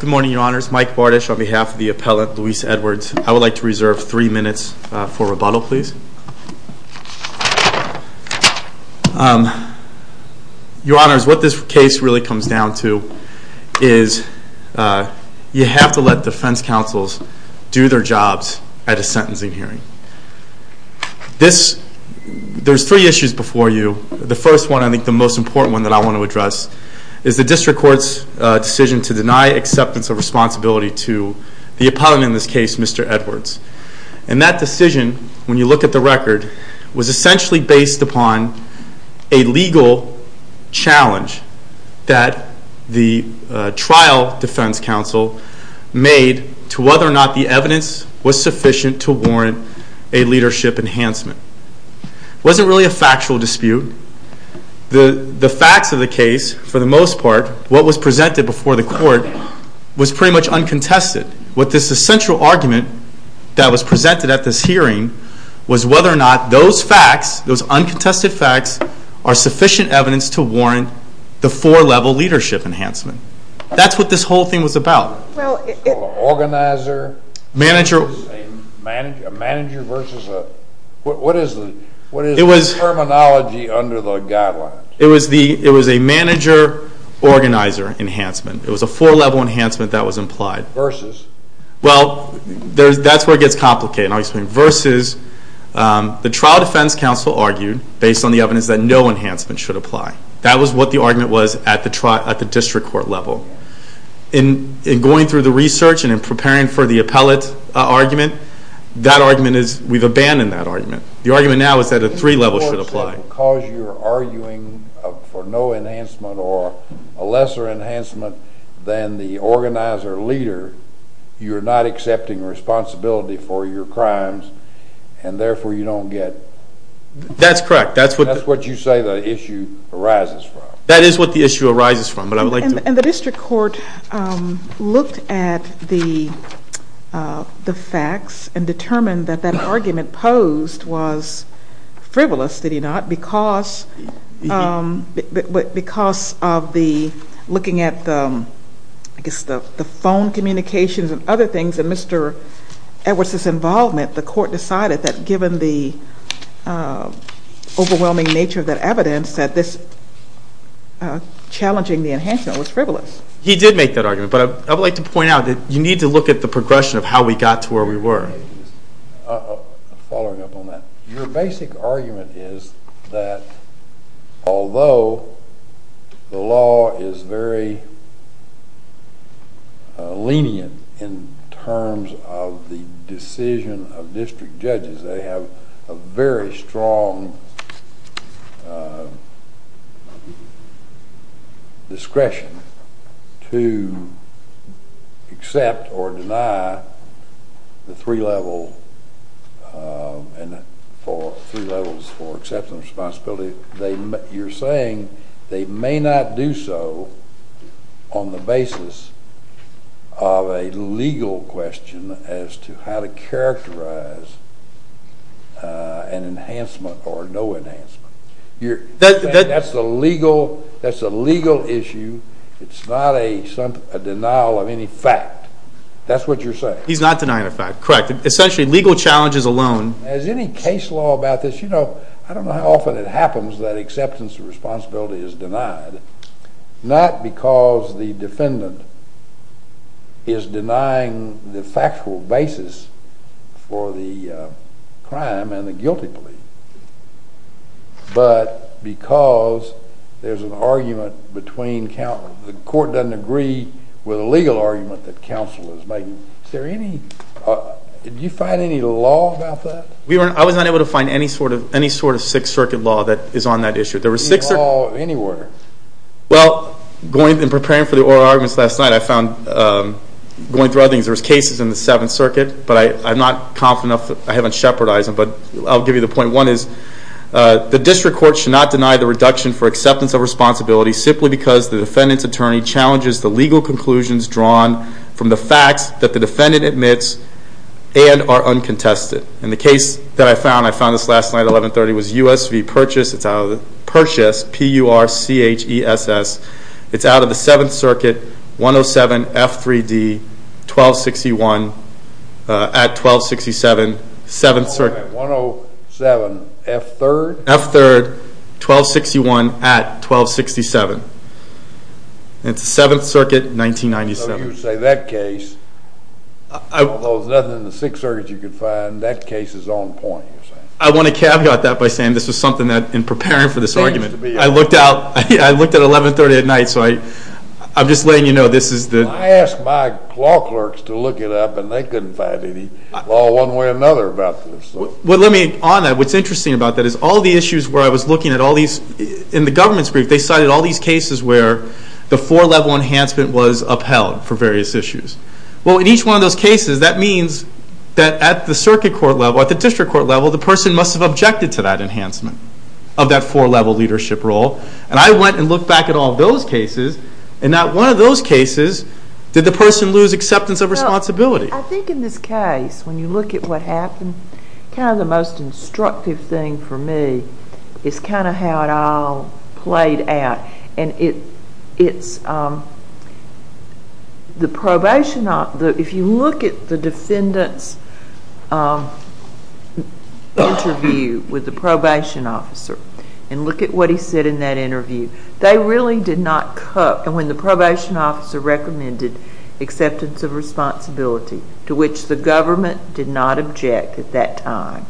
Good morning, your honors. Mike Bardisch on behalf of the appellate Luis Edwards. I would like to begin by saying that you have to let defense counsels do their jobs at a sentencing hearing. There are three issues before you. The first one, I think the most important one that I want to address, is the district court's decision to deny acceptance of responsibility to the appellant in this case, Mr. Edwards. And that decision, when you look at the case, was essentially based upon a legal challenge that the trial defense counsel made to whether or not the evidence was sufficient to warrant a leadership enhancement. It wasn't really a factual dispute. The facts of the case, for the most part, what was presented before the court, was pretty much uncontested. What this essential argument that was presented at this hearing was whether or not those facts, those uncontested facts, are sufficient evidence to warrant the four-level leadership enhancement. That's what this whole thing was about. It was a manager-organizer enhancement. It was a four-level enhancement that was implied. Well, that's where it gets complicated, and I'll explain. Versus the trial defense counsel argued, based on the evidence, that no enhancement should apply. That was what the argument was at the district court level. In going through the research and in preparing for the appellate argument, that argument is, we've abandoned that argument. The argument now is that a three-level should apply. Because you're arguing for no enhancement or a lesser enhancement than the organizer-leader, you're not accepting responsibility for your crimes, and therefore you don't get... That's correct. That's what you say the issue arises from. That is what the issue arises from. And the district court looked at the facts and determined that that argument posed was frivolous, did it not, because of looking at the phone communications and other things, and Mr. Edwards' involvement, the court decided that given the overwhelming nature of that evidence, that this enhancement was frivolous. He did make that argument, but I would like to point out that you need to look at the progression of how we got to where we were. Following up on that, your basic argument is that although the law is very lenient in terms of the decision of district judges, they have a very strong discretion to accept or deny the three levels for acceptance and responsibility. You're saying they may not do so on the basis of a legal question as to how to characterize an enhancement or no enhancement. That's a legal issue. It's not a denial of any fact. That's what you're saying. He's not denying a fact, correct. Essentially, legal challenges alone... Is there any case law about this? You know, I don't know how often it happens that acceptance of responsibility is denied, not because the defendant is denying the factual basis for the crime and the guilty plea, but because there's an argument between...the court doesn't agree with a legal argument that counsel is making. Do you find any law about that? I was not able to find any sort of Sixth Circuit law that is on that issue. Any law of any order? Well, in preparing for the oral arguments last night, I found, going through other things, there were cases in the Seventh Circuit, but I'm not confident enough that I haven't shepherdized them. But I'll give you the point. One is, the district court should not deny the reduction for acceptance of responsibility simply because the defendant's attorney challenges the legal conclusions drawn from the facts that the defendant admits and are uncontested. And the case that I found, I found this last night at 1130, was U.S. v. Purchase. It's out of the Purchase, P-U-R-C-H-E-S-S. It's out of the Seventh Circuit, 107 F-3-D, 1261 at 1267, Seventh Circuit. 107 F-3rd? F-3rd, 1261 at 1267. And it's the Seventh Circuit, 1997. So you would say that case, although there's nothing in the Sixth Circuit you could find, that case is on point, you're saying? I want to caveat that by saying this was something that, in preparing for this argument, I looked at 1130 at night, so I'm just letting you know this is the... I asked my law clerks to look it up, and they couldn't find any law one way or another about this. On that, what's interesting about that is all the issues where I was looking at all these... In the government's brief, they cited all these cases where the four-level enhancement was upheld for various issues. Well, in each one of those cases, that means that at the circuit court level, at the district court level, the person must have objected to that enhancement of that four-level leadership role. And I went and looked back at all those cases, and not one of those cases did the person lose acceptance of responsibility. I think in this case, when you look at what happened, kind of the most instructive thing for me is kind of how it all played out. And it's the probation officer... If you look at the defendant's interview with the probation officer, and look at what he said in that interview, they really did not... And when the probation officer recommended acceptance of responsibility, to which the government did not object at that time,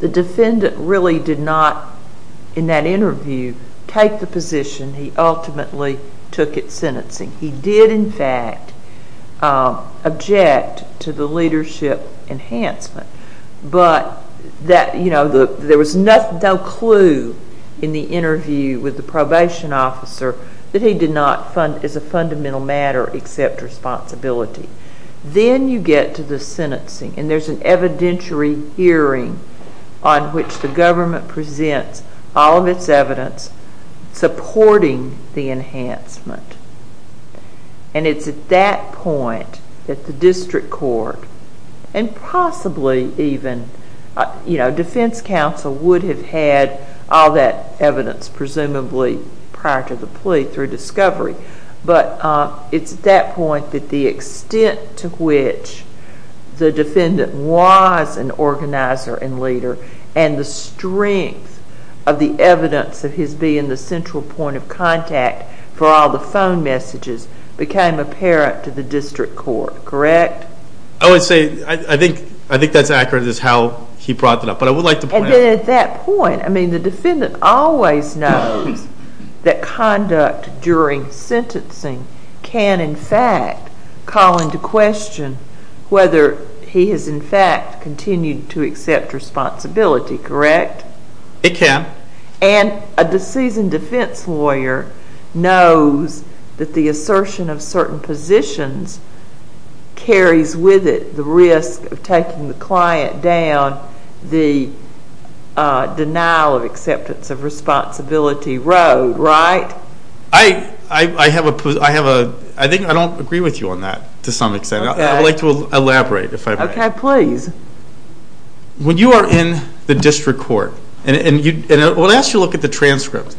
the defendant really did not, in that interview, take the position. He ultimately took it sentencing. He did, in fact, object to the leadership enhancement, but there was no clue in the interview with the probation officer that he did not, as a fundamental matter, accept responsibility. Then you get to the sentencing, and there's an evidentiary hearing on which the government presents all of its evidence supporting the enhancement. And it's at that point that the district court, and possibly even, you know, defense counsel would have had all that evidence, presumably, prior to the plea through discovery. But it's at that point that the extent to which the defendant was an organizer and leader, and the strength of the evidence of his being the central point of contact for all the phone messages, became apparent to the district court, correct? I would say, I think that's accurate as to how he brought that up, but I would like to point out... But at that point, I mean, the defendant always knows that conduct during sentencing can, in fact, call into question whether he has, in fact, continued to accept responsibility, correct? It can. And a deceased defense lawyer knows that the assertion of certain positions carries with it the risk of taking the client down the denial of acceptance of responsibility road, right? I have a... I think I don't agree with you on that, to some extent. I would like to elaborate, if I may. Okay, please. When you are in the district court, and we'll ask you to look at the transcript.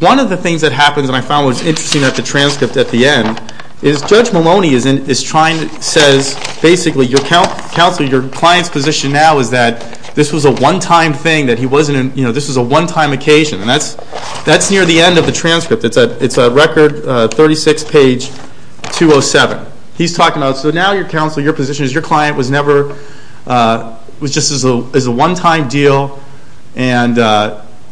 One of the things that happens, and I found what was interesting about the transcript at the end, is Judge Maloney is trying to say, basically, your counsel, your client's position now is that this was a one-time thing, that he wasn't, you know, this was a one-time occasion. And that's near the end of the transcript. It's at record 36, page 207. He's talking about, so now your counsel, your position is your client was never, was just a one-time deal, and,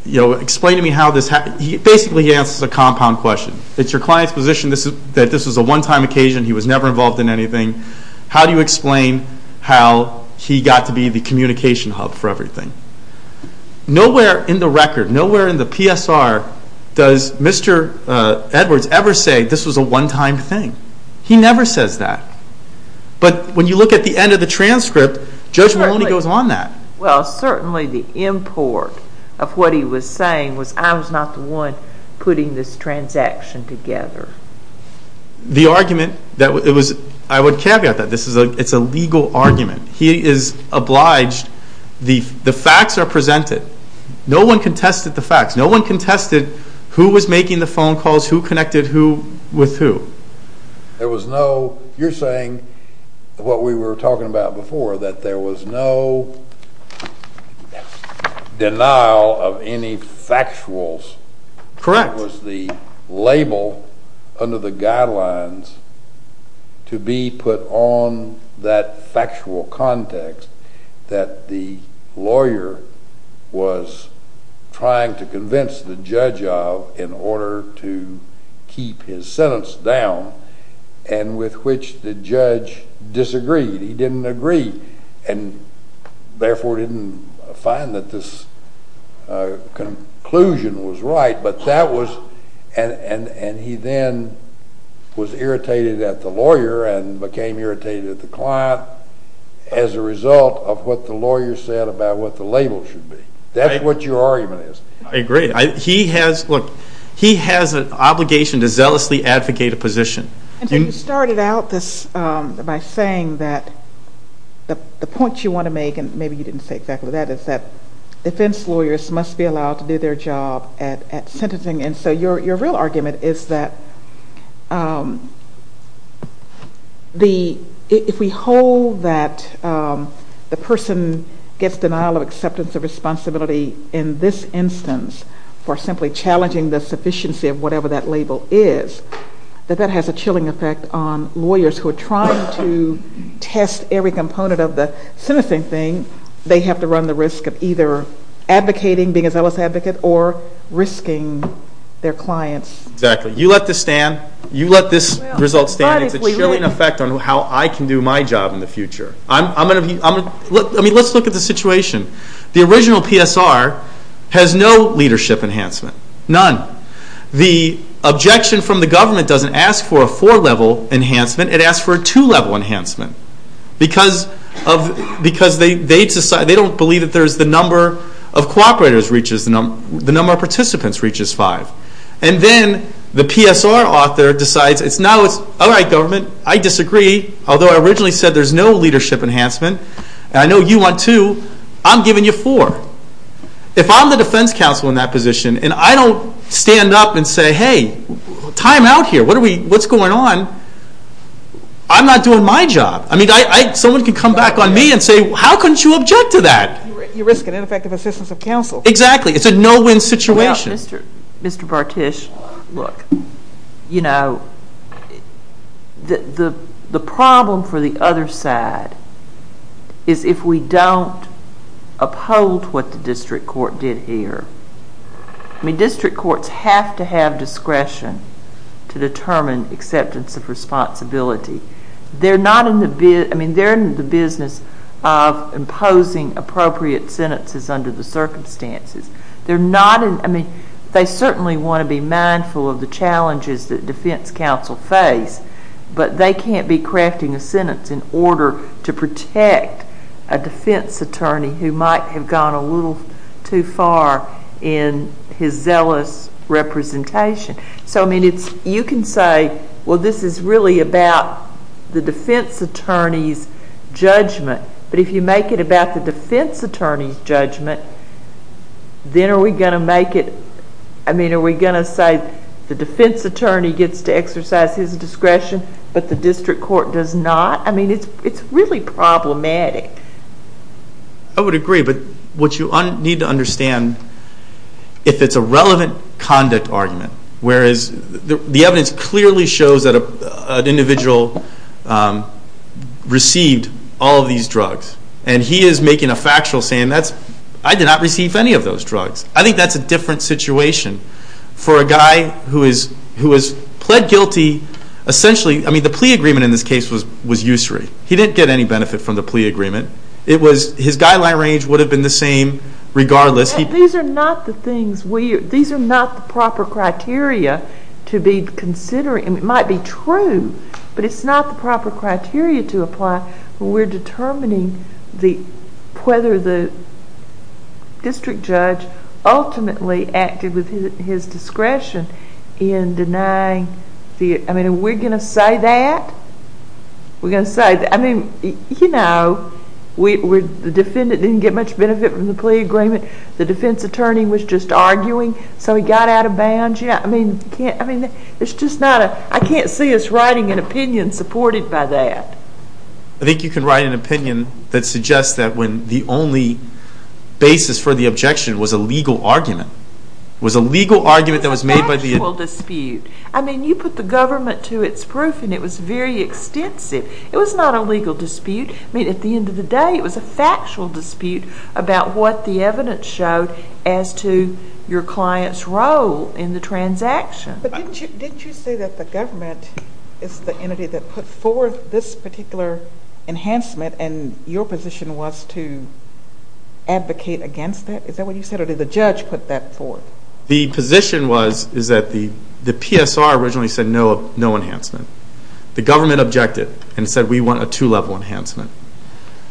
you know, explain to me how this happened. Basically, he answers a compound question. It's your client's position that this was a one-time occasion, he was never involved in anything. How do you explain how he got to be the communication hub for everything? Nowhere in the record, nowhere in the PSR does Mr. Edwards ever say this was a one-time thing. He never says that. But when you look at the end of the transcript, Judge Maloney goes on that. Well, certainly the import of what he was saying was I was not the one putting this transaction together. The argument that it was, I would caveat that. This is a, it's a legal argument. He is obliged, the facts are presented. No one contested the facts. There was no, you're saying what we were talking about before, that there was no denial of any factuals. Correct. That was the label under the guidelines to be put on that factual context that the lawyer was trying to convince the judge of in order to keep his sentence down, and with which the judge disagreed. And therefore didn't find that this conclusion was right. But that was, and he then was irritated at the lawyer and became irritated at the client as a result of what the lawyer said about what the label should be. That's what your argument is. I agree. He has, look, he has an obligation to zealously advocate a position. You started out this by saying that the point you want to make, and maybe you didn't say exactly that, is that defense lawyers must be allowed to do their job at sentencing. And so your real argument is that the, if we hold that the person gets denial of acceptance of responsibility in this instance for simply challenging the sufficiency of whatever that label is, that that has a chilling effect on lawyers who are trying to test every component of the sentencing thing. They have to run the risk of either advocating, being a zealous advocate, or risking their clients. Exactly. You let this stand. You let this result stand. It's a chilling effect on how I can do my job in the future. I mean, let's look at the situation. The original PSR has no leadership enhancement. None. The objection from the government doesn't ask for a four-level enhancement. It asks for a two-level enhancement. Because they don't believe that there's the number of cooperators reaches, the number of participants reaches five. And then the PSR author decides, all right, government, I disagree. Although I originally said there's no leadership enhancement. I know you want two. I'm giving you four. If I'm the defense counsel in that position and I don't stand up and say, hey, time out here. What's going on? I'm not doing my job. I mean, someone can come back on me and say, how couldn't you object to that? You risk an ineffective assistance of counsel. Exactly. It's a no-win situation. Well, Mr. Bartish, look, you know, the problem for the other side is if we don't uphold what the district court did here. I mean, district courts have to have discretion to determine acceptance of responsibility. They're in the business of imposing appropriate sentences under the circumstances. I mean, they certainly want to be mindful of the challenges that defense counsel face, but they can't be crafting a sentence in order to protect a defense attorney who might have gone a little too far in his zealous representation. So, I mean, you can say, well, this is really about the defense attorney's judgment. But if you make it about the defense attorney's judgment, then are we going to make it, I mean, are we going to say the defense attorney gets to exercise his discretion but the district court does not? I mean, it's really problematic. I would agree, but what you need to understand, if it's a relevant conduct argument, whereas the evidence clearly shows that an individual received all of these drugs, and he is making a factual statement, I did not receive any of those drugs. I think that's a different situation. For a guy who has pled guilty, essentially, I mean, the plea agreement in this case was usury. He didn't get any benefit from the plea agreement. His guideline range would have been the same regardless. These are not the proper criteria to be considering. It might be true, but it's not the proper criteria to apply. We're determining whether the district judge ultimately acted with his discretion in denying the, I mean, are we going to say that? We're going to say, I mean, you know, the defendant didn't get much benefit from the plea agreement. The defense attorney was just arguing, so he got out of bounds. I mean, it's just not a, I can't see us writing an opinion supported by that. I think you can write an opinion that suggests that the only basis for the objection was a legal argument. It was a legal argument that was made by the... It was not a legal dispute. I mean, at the end of the day, it was a factual dispute about what the evidence showed as to your client's role in the transaction. But didn't you say that the government is the entity that put forth this particular enhancement and your position was to advocate against that? Is that what you said, or did the judge put that forth? The position was that the PSR originally said no enhancement. The government objected and said we want a two-level enhancement.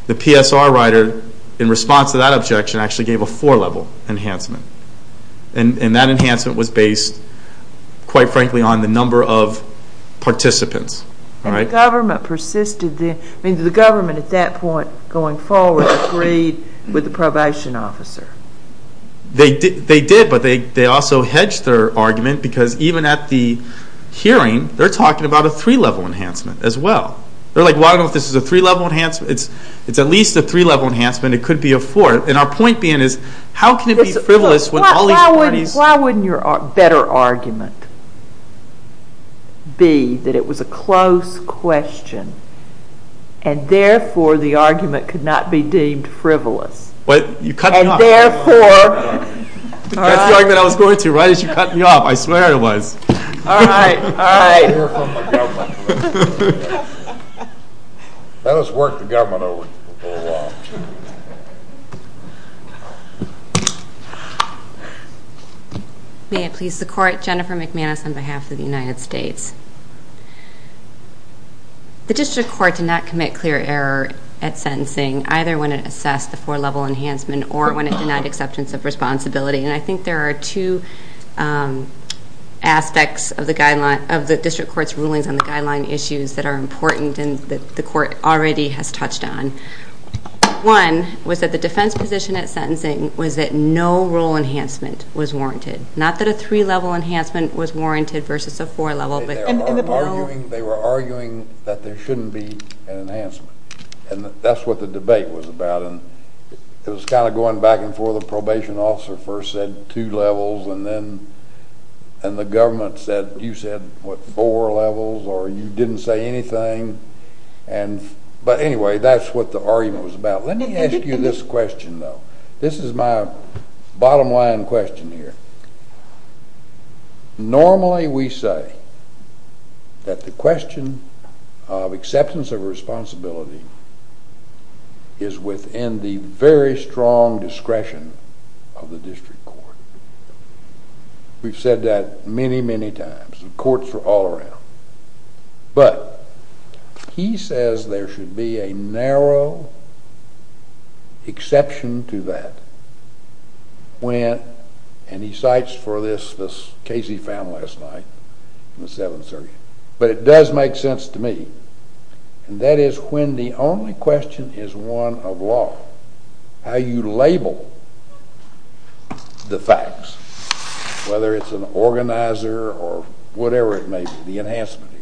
The PSR writer, in response to that objection, actually gave a four-level enhancement. And that enhancement was based, quite frankly, on the number of participants. And the government persisted then? I mean, did the government at that point, going forward, agree with the probation officer? They did, but they also hedged their argument because even at the hearing, they're talking about a three-level enhancement as well. They're like, well, I don't know if this is a three-level enhancement. It's at least a three-level enhancement. It could be a four. And our point being is how can it be frivolous when all these parties... Why wouldn't your better argument be that it was a close question and therefore the argument could not be deemed frivolous? You cut me off. And therefore... That's the argument I was going to right as you cut me off. I swear it was. All right. All right. You're from the government. That has worked the government over for a while. May it please the Court. Jennifer McManus on behalf of the United States. The district court did not commit clear error at sentencing, either when it assessed the four-level enhancement or when it denied acceptance of responsibility. And I think there are two aspects of the district court's rulings on the guideline issues that are important and that the court already has touched on. One was that the defense position at sentencing was that no rule enhancement was warranted. Not that a three-level enhancement was warranted versus a four-level. They were arguing that there shouldn't be an enhancement. And that's what the debate was about. It was kind of going back and forth. The probation officer first said two levels and then the government said, you said, what, four levels or you didn't say anything. But anyway, that's what the argument was about. Let me ask you this question, though. This is my bottom line question here. Normally we say that the question of acceptance of responsibility is within the very strong discretion of the district court. We've said that many, many times. The courts are all around. But he says there should be a narrow exception to that when, and he cites for this what Casey found last night in the Seventh Circuit, but it does make sense to me. And that is when the only question is one of law, how you label the facts, whether it's an organizer or whatever it may be, the enhancement here.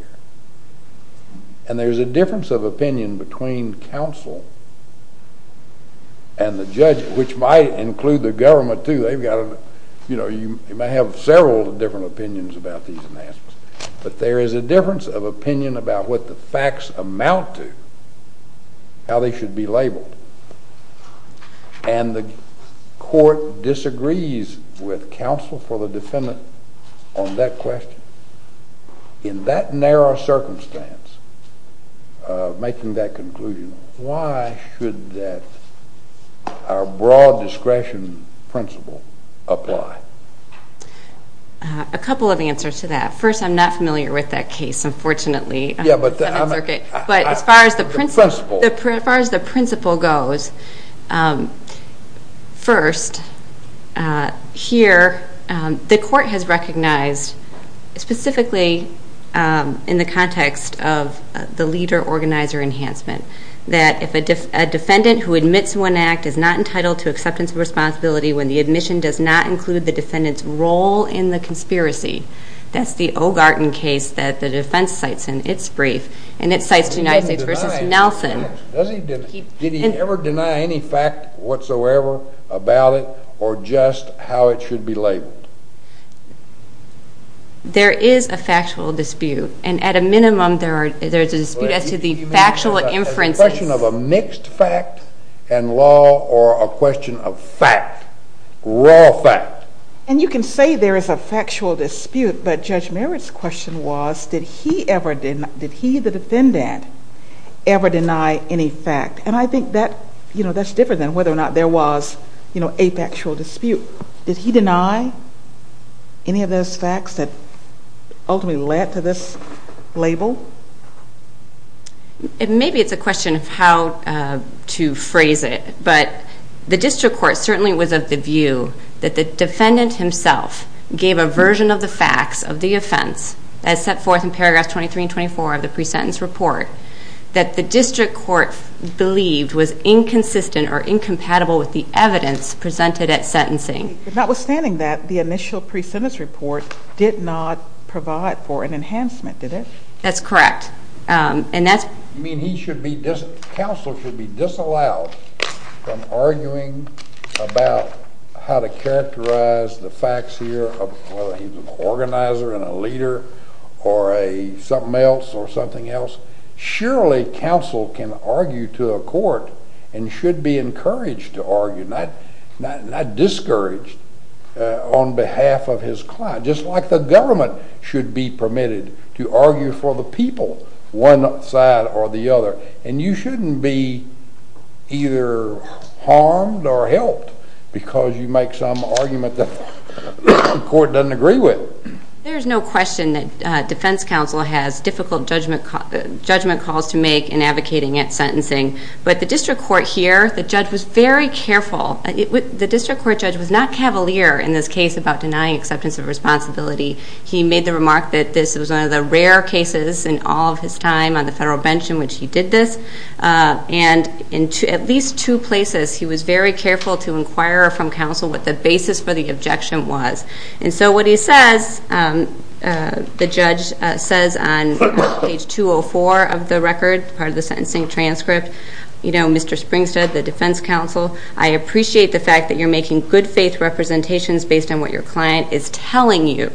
And there's a difference of opinion between counsel and the judge, which might include the government, too. They've got to, you know, you may have several different opinions about these enhancements. But there is a difference of opinion about what the facts amount to, how they should be labeled. And the court disagrees with counsel for the defendant on that question. In that narrow circumstance of making that conclusion, why should that, our broad discretion principle, apply? A couple of answers to that. First, I'm not familiar with that case, unfortunately, on the Seventh Circuit. But as far as the principle goes, first, here, the court has recognized, specifically in the context of the leader-organizer enhancement, that if a defendant who admits to an act is not entitled to acceptance of responsibility when the admission does not include the defendant's role in the conspiracy, that's the Ogarton case that the defense cites in its brief, and it cites the United States v. Nelson. Did he ever deny any fact whatsoever about it or just how it should be labeled? There is a factual dispute. And at a minimum, there is a dispute as to the factual inferences. It's a question of a mixed fact and law or a question of fact, raw fact. And you can say there is a factual dispute, but Judge Merritt's question was did he, the defendant, ever deny any fact? And I think that's different than whether or not there was a factual dispute. Did he deny any of those facts that ultimately led to this label? Maybe it's a question of how to phrase it, but the district court certainly was of the view that the defendant himself gave a version of the facts of the offense, as set forth in paragraphs 23 and 24 of the pre-sentence report, that the district court believed was inconsistent or incompatible with the evidence presented at sentencing. Notwithstanding that, the initial pre-sentence report did not provide for an enhancement, did it? That's correct. You mean counsel should be disallowed from arguing about how to characterize the facts here, whether he's an organizer and a leader or something else? Surely counsel can argue to a court and should be encouraged to argue, not discouraged on behalf of his client, just like the government should be permitted to argue for the people, one side or the other. And you shouldn't be either harmed or helped because you make some argument that the court doesn't agree with. There's no question that defense counsel has difficult judgment calls to make in advocating at sentencing, but the district court here, the judge was very careful. The district court judge was not cavalier in this case about denying acceptance of responsibility. He made the remark that this was one of the rare cases in all of his time on the federal bench in which he did this. And in at least two places, he was very careful to inquire from counsel what the basis for the objection was. And so what he says, the judge says on page 204 of the record, part of the sentencing transcript, Mr. Springstead, the defense counsel, I appreciate the fact that you're making good faith representations based on what your client is telling you,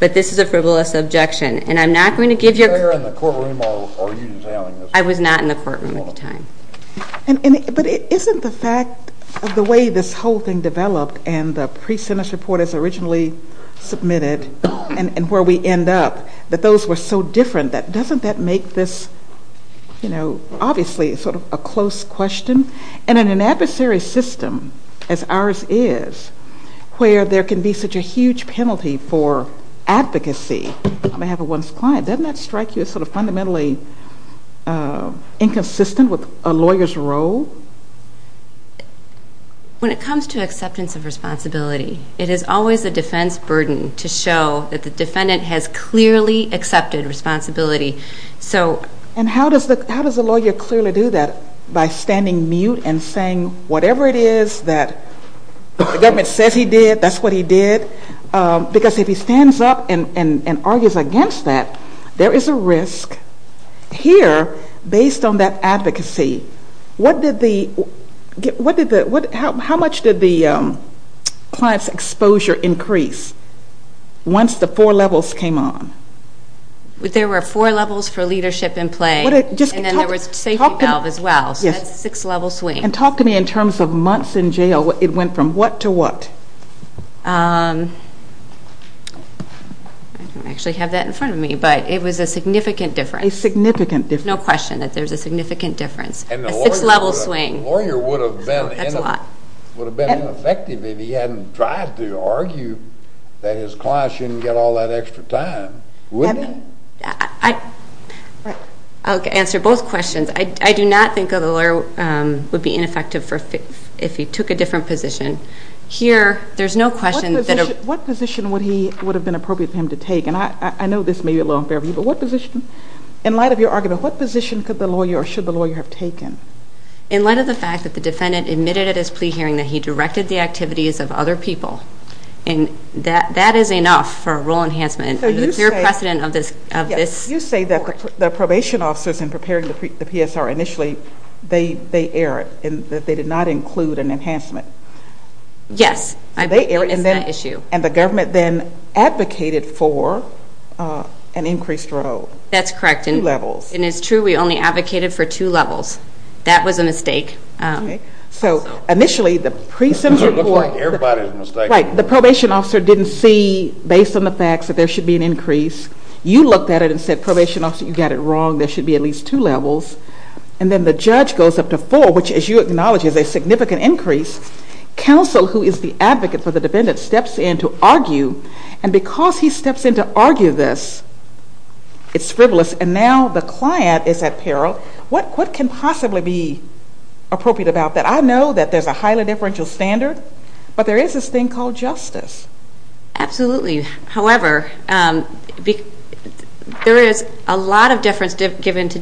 but this is a frivolous objection. And I'm not going to give you a... I was not in the courtroom at the time. But isn't the fact of the way this whole thing developed and the pre-sentence report is originally submitted and where we end up, that those were so different, doesn't that make this, you know, obviously sort of a close question? And in an adversary system as ours is, where there can be such a huge penalty for advocacy on behalf of one's client, doesn't that strike you as sort of fundamentally inconsistent with a lawyer's role? When it comes to acceptance of responsibility, it is always a defense burden to show that the defendant has clearly accepted responsibility. So... And how does the lawyer clearly do that by standing mute and saying whatever it is that the government says he did, that's what he did? Because if he stands up and argues against that, there is a risk here based on that advocacy. What did the... How much did the client's exposure increase once the four levels came on? There were four levels for leadership in play and then there was a safety valve as well. So that's a six-level swing. And talk to me in terms of months in jail, it went from what to what? I don't actually have that in front of me, but it was a significant difference. A significant difference. No question that there's a significant difference. A six-level swing. The lawyer would have been ineffective if he hadn't tried to argue that his client shouldn't get all that extra time, wouldn't he? I'll answer both questions. I do not think the lawyer would be ineffective if he took a different position. Here, there's no question that... What position would have been appropriate for him to take? And I know this may be a little unfair to you, but what position? In light of your argument, what position could the lawyer or should the lawyer have taken? In light of the fact that the defendant admitted at his plea hearing that he directed the activities of other people. And that is enough for a rule enhancement. So you say... Under the clear precedent of this... You say that the probation officers in preparing the PSR initially, they erred and that they did not include an enhancement. Yes. They erred and then... It's that issue. And the government then advocated for an increased rule. That's correct. Two levels. That was a mistake. Okay. So initially, the pre-sims report... It looked like everybody's mistake. Right. The probation officer didn't see, based on the facts, that there should be an increase. You looked at it and said, probation officer, you got it wrong. There should be at least two levels. And then the judge goes up to four, which, as you acknowledge, is a significant increase. Counsel, who is the advocate for the defendant, steps in to argue. And because he steps in to argue this, it's frivolous. And now the client is at peril. What can possibly be appropriate about that? I know that there's a highly differential standard, but there is this thing called justice. Absolutely. However, there is a lot of difference given to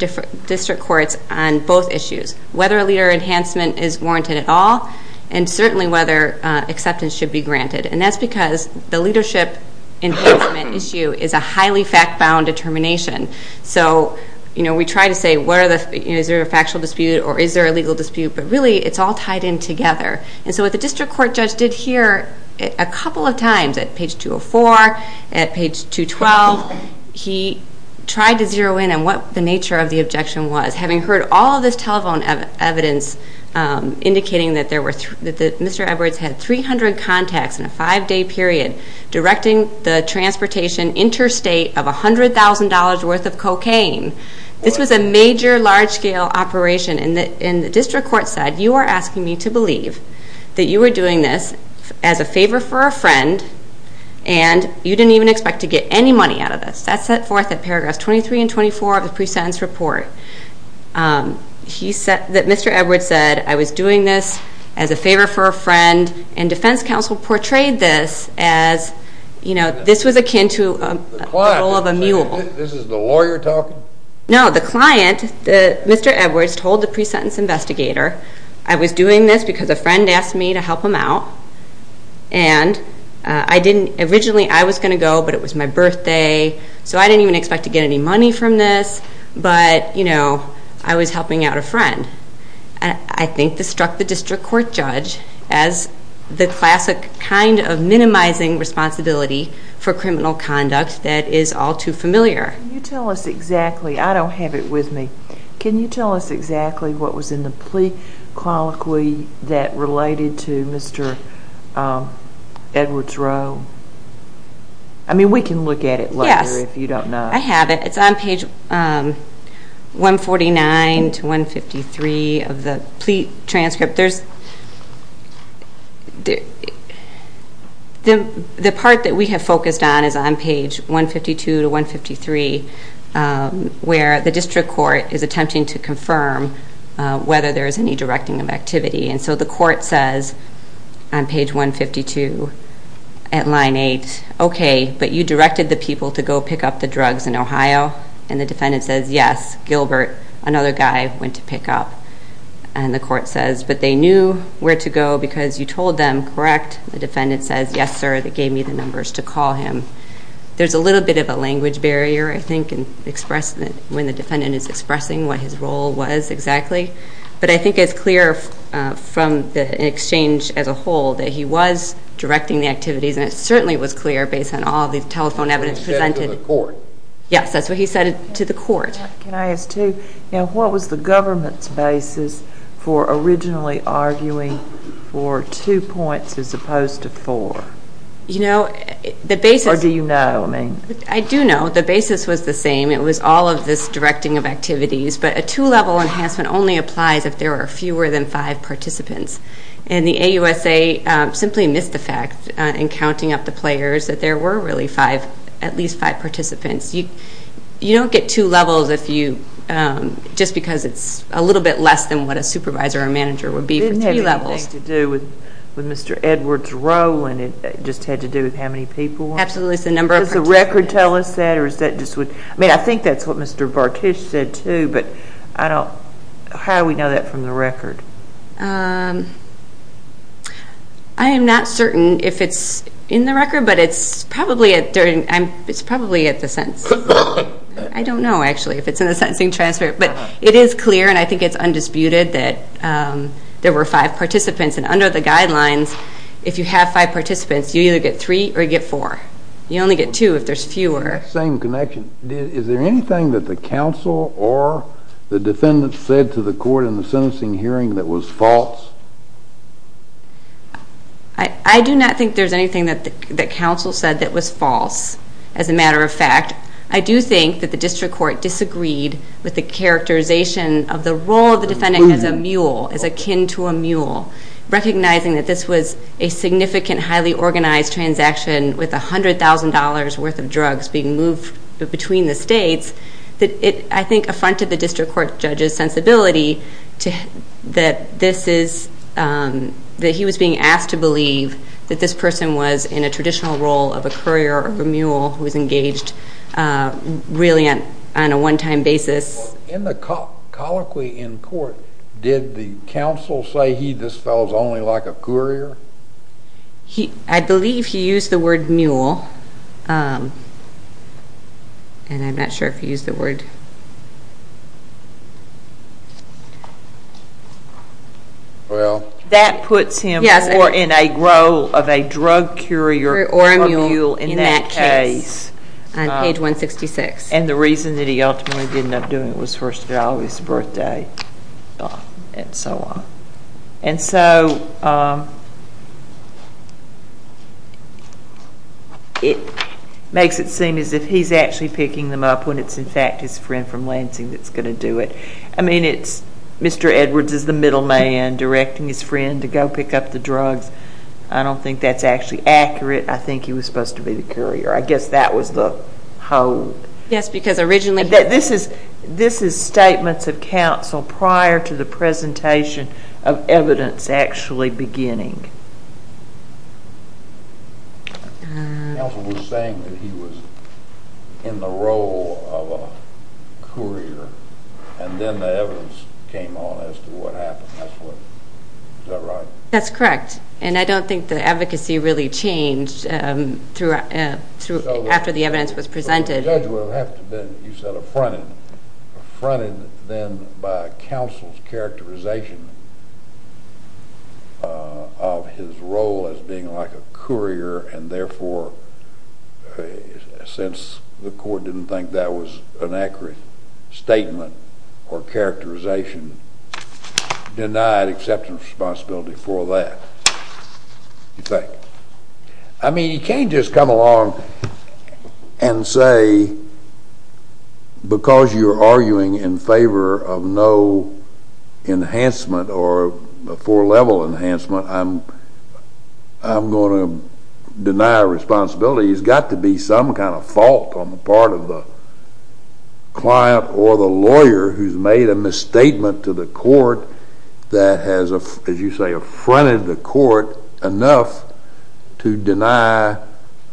district courts on both issues, whether a leader enhancement is warranted at all and certainly whether acceptance should be granted. And that's because the leadership enhancement issue is a highly fact-bound determination. So we try to say, is there a factual dispute or is there a legal dispute? But really, it's all tied in together. And so what the district court judge did here a couple of times at page 204, at page 212, he tried to zero in on what the nature of the objection was. Having heard all of this telephone evidence indicating that Mr. Edwards had 300 contacts in a five-day period directing the transportation interstate of $100,000 worth of cocaine, this was a major large-scale operation. And the district court said, you are asking me to believe that you were doing this as a favor for a friend and you didn't even expect to get any money out of this. That's set forth at paragraphs 23 and 24 of the pre-sentence report. Mr. Edwards said, I was doing this as a favor for a friend, and defense counsel portrayed this as, you know, this was akin to the role of a mule. This is the lawyer talking? No, the client, Mr. Edwards, told the pre-sentence investigator, I was doing this because a friend asked me to help him out. And originally I was going to go, but it was my birthday, so I didn't even expect to get any money from this. But, you know, I was helping out a friend. I think this struck the district court judge as the classic kind of minimizing responsibility for criminal conduct that is all too familiar. Can you tell us exactly, I don't have it with me, can you tell us exactly what was in the plea colloquy that related to Mr. Edwards' role? I mean, we can look at it later if you don't know. I have it, it's on page 149 to 153 of the plea transcript. The part that we have focused on is on page 152 to 153, where the district court is attempting to confirm whether there is any directing of activity. And so the court says on page 152 at line 8, okay, but you directed the people to go pick up the drugs in Ohio. And the defendant says, yes, Gilbert, another guy, went to pick up. And the court says, but they knew where to go because you told them, correct? The defendant says, yes, sir, they gave me the numbers to call him. There's a little bit of a language barrier, I think, when the defendant is expressing what his role was exactly. But I think it's clear from the exchange as a whole that he was directing the activities, and it certainly was clear based on all the telephone evidence presented. He said to the court. Yes, that's what he said to the court. Can I ask, too, what was the government's basis for originally arguing for two points as opposed to four? You know, the basis. Or do you know? I do know the basis was the same. It was all of this directing of activities. But a two-level enhancement only applies if there are fewer than five participants. And the AUSA simply missed the fact in counting up the players that there were really at least five participants. You don't get two levels just because it's a little bit less than what a supervisor or manager would be for three levels. Didn't it have anything to do with Mr. Edwards' role and it just had to do with how many people? Absolutely. Does the record tell us that? I mean, I think that's what Mr. Bartish said, too, but how do we know that from the record? I am not certain if it's in the record, but it's probably at the sentence. I don't know, actually, if it's in the sentencing transcript. But it is clear, and I think it's undisputed, that there were five participants. And under the guidelines, if you have five participants, you either get three or you get four. You only get two if there's fewer. It's that same connection. Is there anything that the counsel or the defendant said to the court in the sentencing hearing that was false? I do not think there's anything that counsel said that was false, as a matter of fact. I do think that the district court disagreed with the characterization of the role of the defendant as a mule, as akin to a mule, recognizing that this was a significant, highly organized transaction with $100,000 worth of drugs being moved between the states. I think it affronted the district court judge's sensibility that he was being asked to believe that this person was in a traditional role of a courier or a mule who was engaged really on a one-time basis. In the colloquy in court, did the counsel say he, this fellow, is only like a courier? I believe he used the word mule. And I'm not sure if he used the word. Well, that puts him more in a role of a drug courier or a mule in that case. Or a mule in that case, on page 166. And the reason that he ultimately did end up doing it was first of all, it was his birthday, and so on. And so it makes it seem as if he's actually picking them up when it's in fact his friend from Lansing that's going to do it. I mean, it's Mr. Edwards is the middle man directing his friend to go pick up the drugs. I don't think that's actually accurate. I guess that was the whole. Yes, because originally he was. This is statements of counsel prior to the presentation of evidence actually beginning. Counsel was saying that he was in the role of a courier, and then the evidence came on as to what happened. Is that right? That's correct. And I don't think the advocacy really changed after the evidence was presented. But the judge would have to have been, you said, affronted. Affronted then by counsel's characterization of his role as being like a courier, and therefore, since the court didn't think that was an accurate statement or characterization, denied acceptance responsibility for that. I mean, he can't just come along and say, because you're arguing in favor of no enhancement or a four-level enhancement, I'm going to deny responsibility. There's got to be some kind of fault on the part of the client or the lawyer who's made a misstatement to the court that has, as you say, affronted the court enough to deny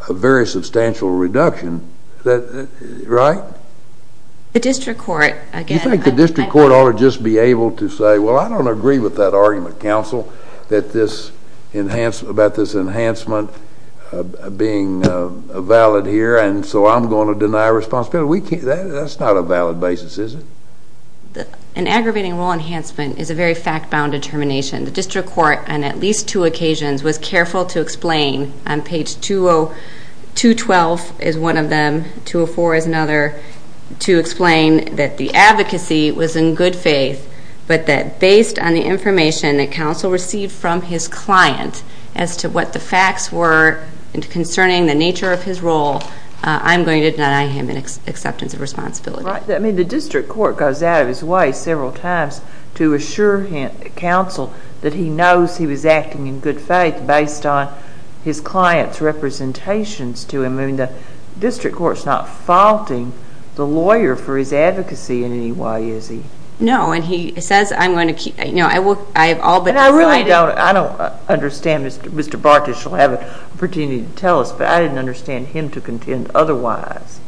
a very substantial reduction. Is that right? The district court, again. And so I'm going to deny responsibility. That's not a valid basis, is it? An aggravating rule enhancement is a very fact-bound determination. The district court, on at least two occasions, was careful to explain on page 212 is one of them, 204 is another, to explain that the advocacy was in good faith, but that based on the information that counsel received from his client as to what the facts were concerning the nature of his role, I'm going to deny him an acceptance of responsibility. Right. I mean, the district court goes out of his way several times to assure counsel that he knows he was acting in good faith based on his client's representations to him. I mean, the district court's not faulting the lawyer for his advocacy in any way, is he? No, and he says, I'm going to keep, no, I will, I have all but decided. And I really don't, I don't understand, Mr. Bartish will have an opportunity to tell us, but I didn't understand him to contend otherwise.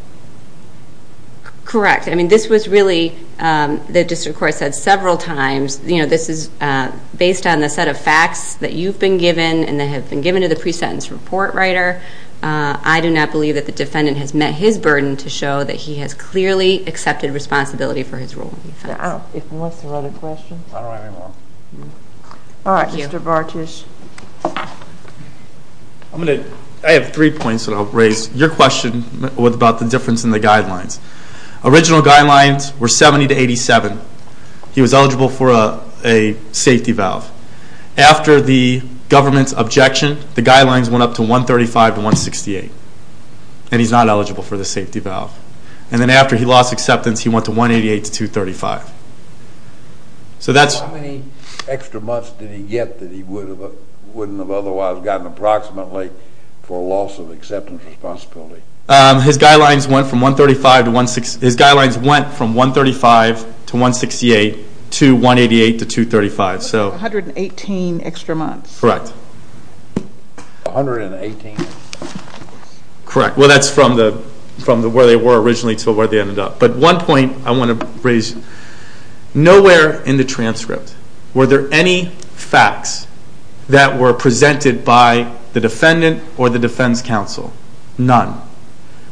Correct. I mean, this was really, the district court said several times, you know, this is based on the set of facts that you've been given and that have been given to the pre-sentence report writer. I do not believe that the defendant has met his burden to show that he has clearly accepted responsibility for his role. If he wants to write a question. I don't have any more. All right, Mr. Bartish. I have three points that I'll raise. Your question was about the difference in the guidelines. Original guidelines were 70 to 87. He was eligible for a safety valve. After the government's objection, the guidelines went up to 135 to 168. And he's not eligible for the safety valve. And then after he lost acceptance, he went to 188 to 235. So that's... How many extra months did he get that he wouldn't have otherwise gotten approximately for a loss of acceptance responsibility? His guidelines went from 135 to 168 to 188 to 235. 118 extra months. Correct. 118 extra months. Correct. Well, that's from where they were originally to where they ended up. But one point I want to raise. Nowhere in the transcript were there any facts that were presented by the defendant or the defense counsel. None.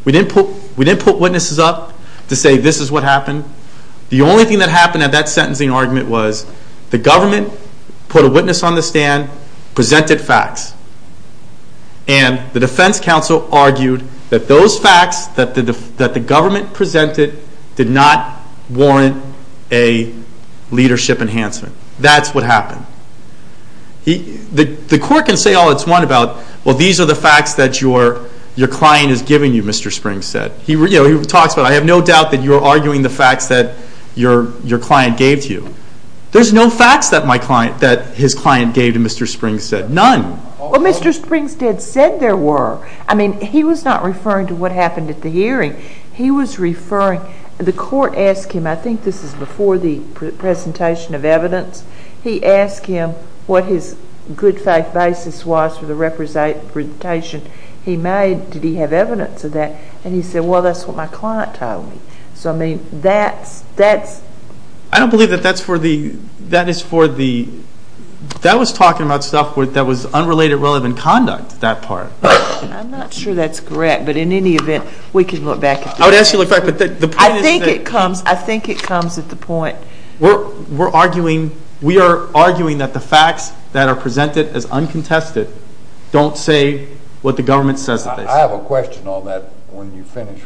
We didn't put witnesses up to say this is what happened. The only thing that happened at that sentencing argument was the government put a witness on the stand, presented facts. And the defense counsel argued that those facts that the government presented did not warrant a leadership enhancement. That's what happened. The court can say all it's want about, well, these are the facts that your client is giving you, Mr. Springs said. He talks about, I have no doubt that you're arguing the facts that your client gave to you. There's no facts that his client gave to Mr. Springs said. None. Well, Mr. Springs did say there were. I mean, he was not referring to what happened at the hearing. He was referring, the court asked him, I think this is before the presentation of evidence. He asked him what his good faith basis was for the representation he made. Did he have evidence of that? And he said, well, that's what my client told me. So, I mean, that's, that's. I don't believe that that's for the, that is for the, that was talking about stuff that was unrelated, relevant conduct, that part. I'm not sure that's correct, but in any event, we can look back at that. I would ask you to look back at that. I think it comes, I think it comes at the point. We're arguing, we are arguing that the facts that are presented as uncontested don't say what the government says they say. I have a question on that when you finish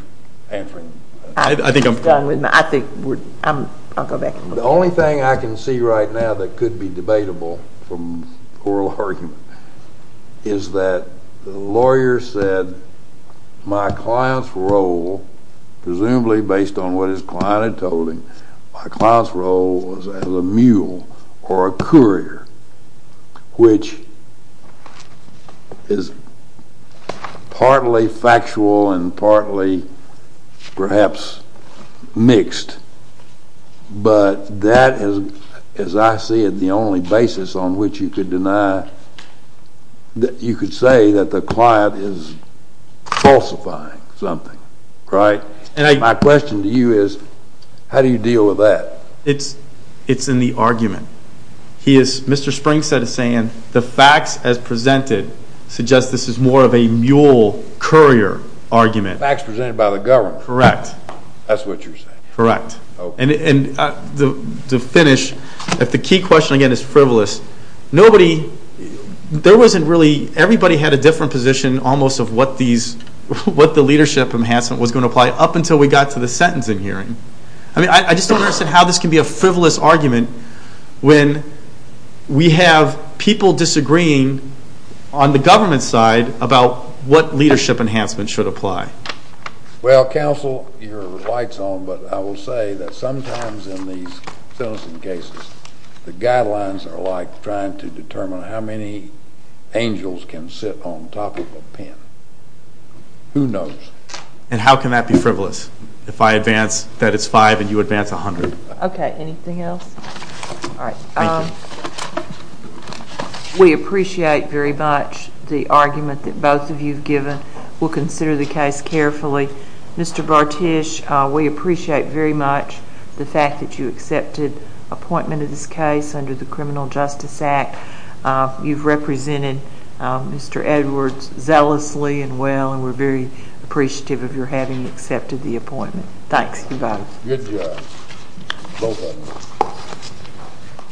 answering. I think I'm done with my, I think we're, I'm, I'll go back. The only thing I can see right now that could be debatable from oral argument is that the lawyer said my client's role, presumably based on what his client had told him, my client's role was as a mule or a courier, which is partly factual and partly perhaps mixed, but that is, as I see it, the only basis on which you could deny, that you could say that the client is falsifying something, right? My question to you is how do you deal with that? It's in the argument. He is, Mr. Springstead is saying the facts as presented suggest this is more of a mule courier argument. Facts presented by the government. Correct. That's what you're saying. Correct. And to finish, if the key question again is frivolous, nobody, there wasn't really, everybody had a different position almost of what these, what the leadership enhancement was going to apply up until we got to the sentencing hearing. I mean, I just don't understand how this can be a frivolous argument when we have people disagreeing on the government side about what leadership enhancement should apply. Well, counsel, your light's on, but I will say that sometimes in these sentencing cases, the guidelines are like trying to determine how many angels can sit on top of a pen. Who knows? And how can that be frivolous? If I advance that it's five and you advance a hundred. Okay, anything else? All right. Thank you. We appreciate very much the argument that both of you have given. We'll consider the case carefully. Mr. Bartish, we appreciate very much the fact that you accepted appointment of this case under the Criminal Justice Act. You've represented Mr. Edwards zealously and well and we're very appreciative of your having accepted the appointment. Thanks. Goodbye. Good job. Both of you.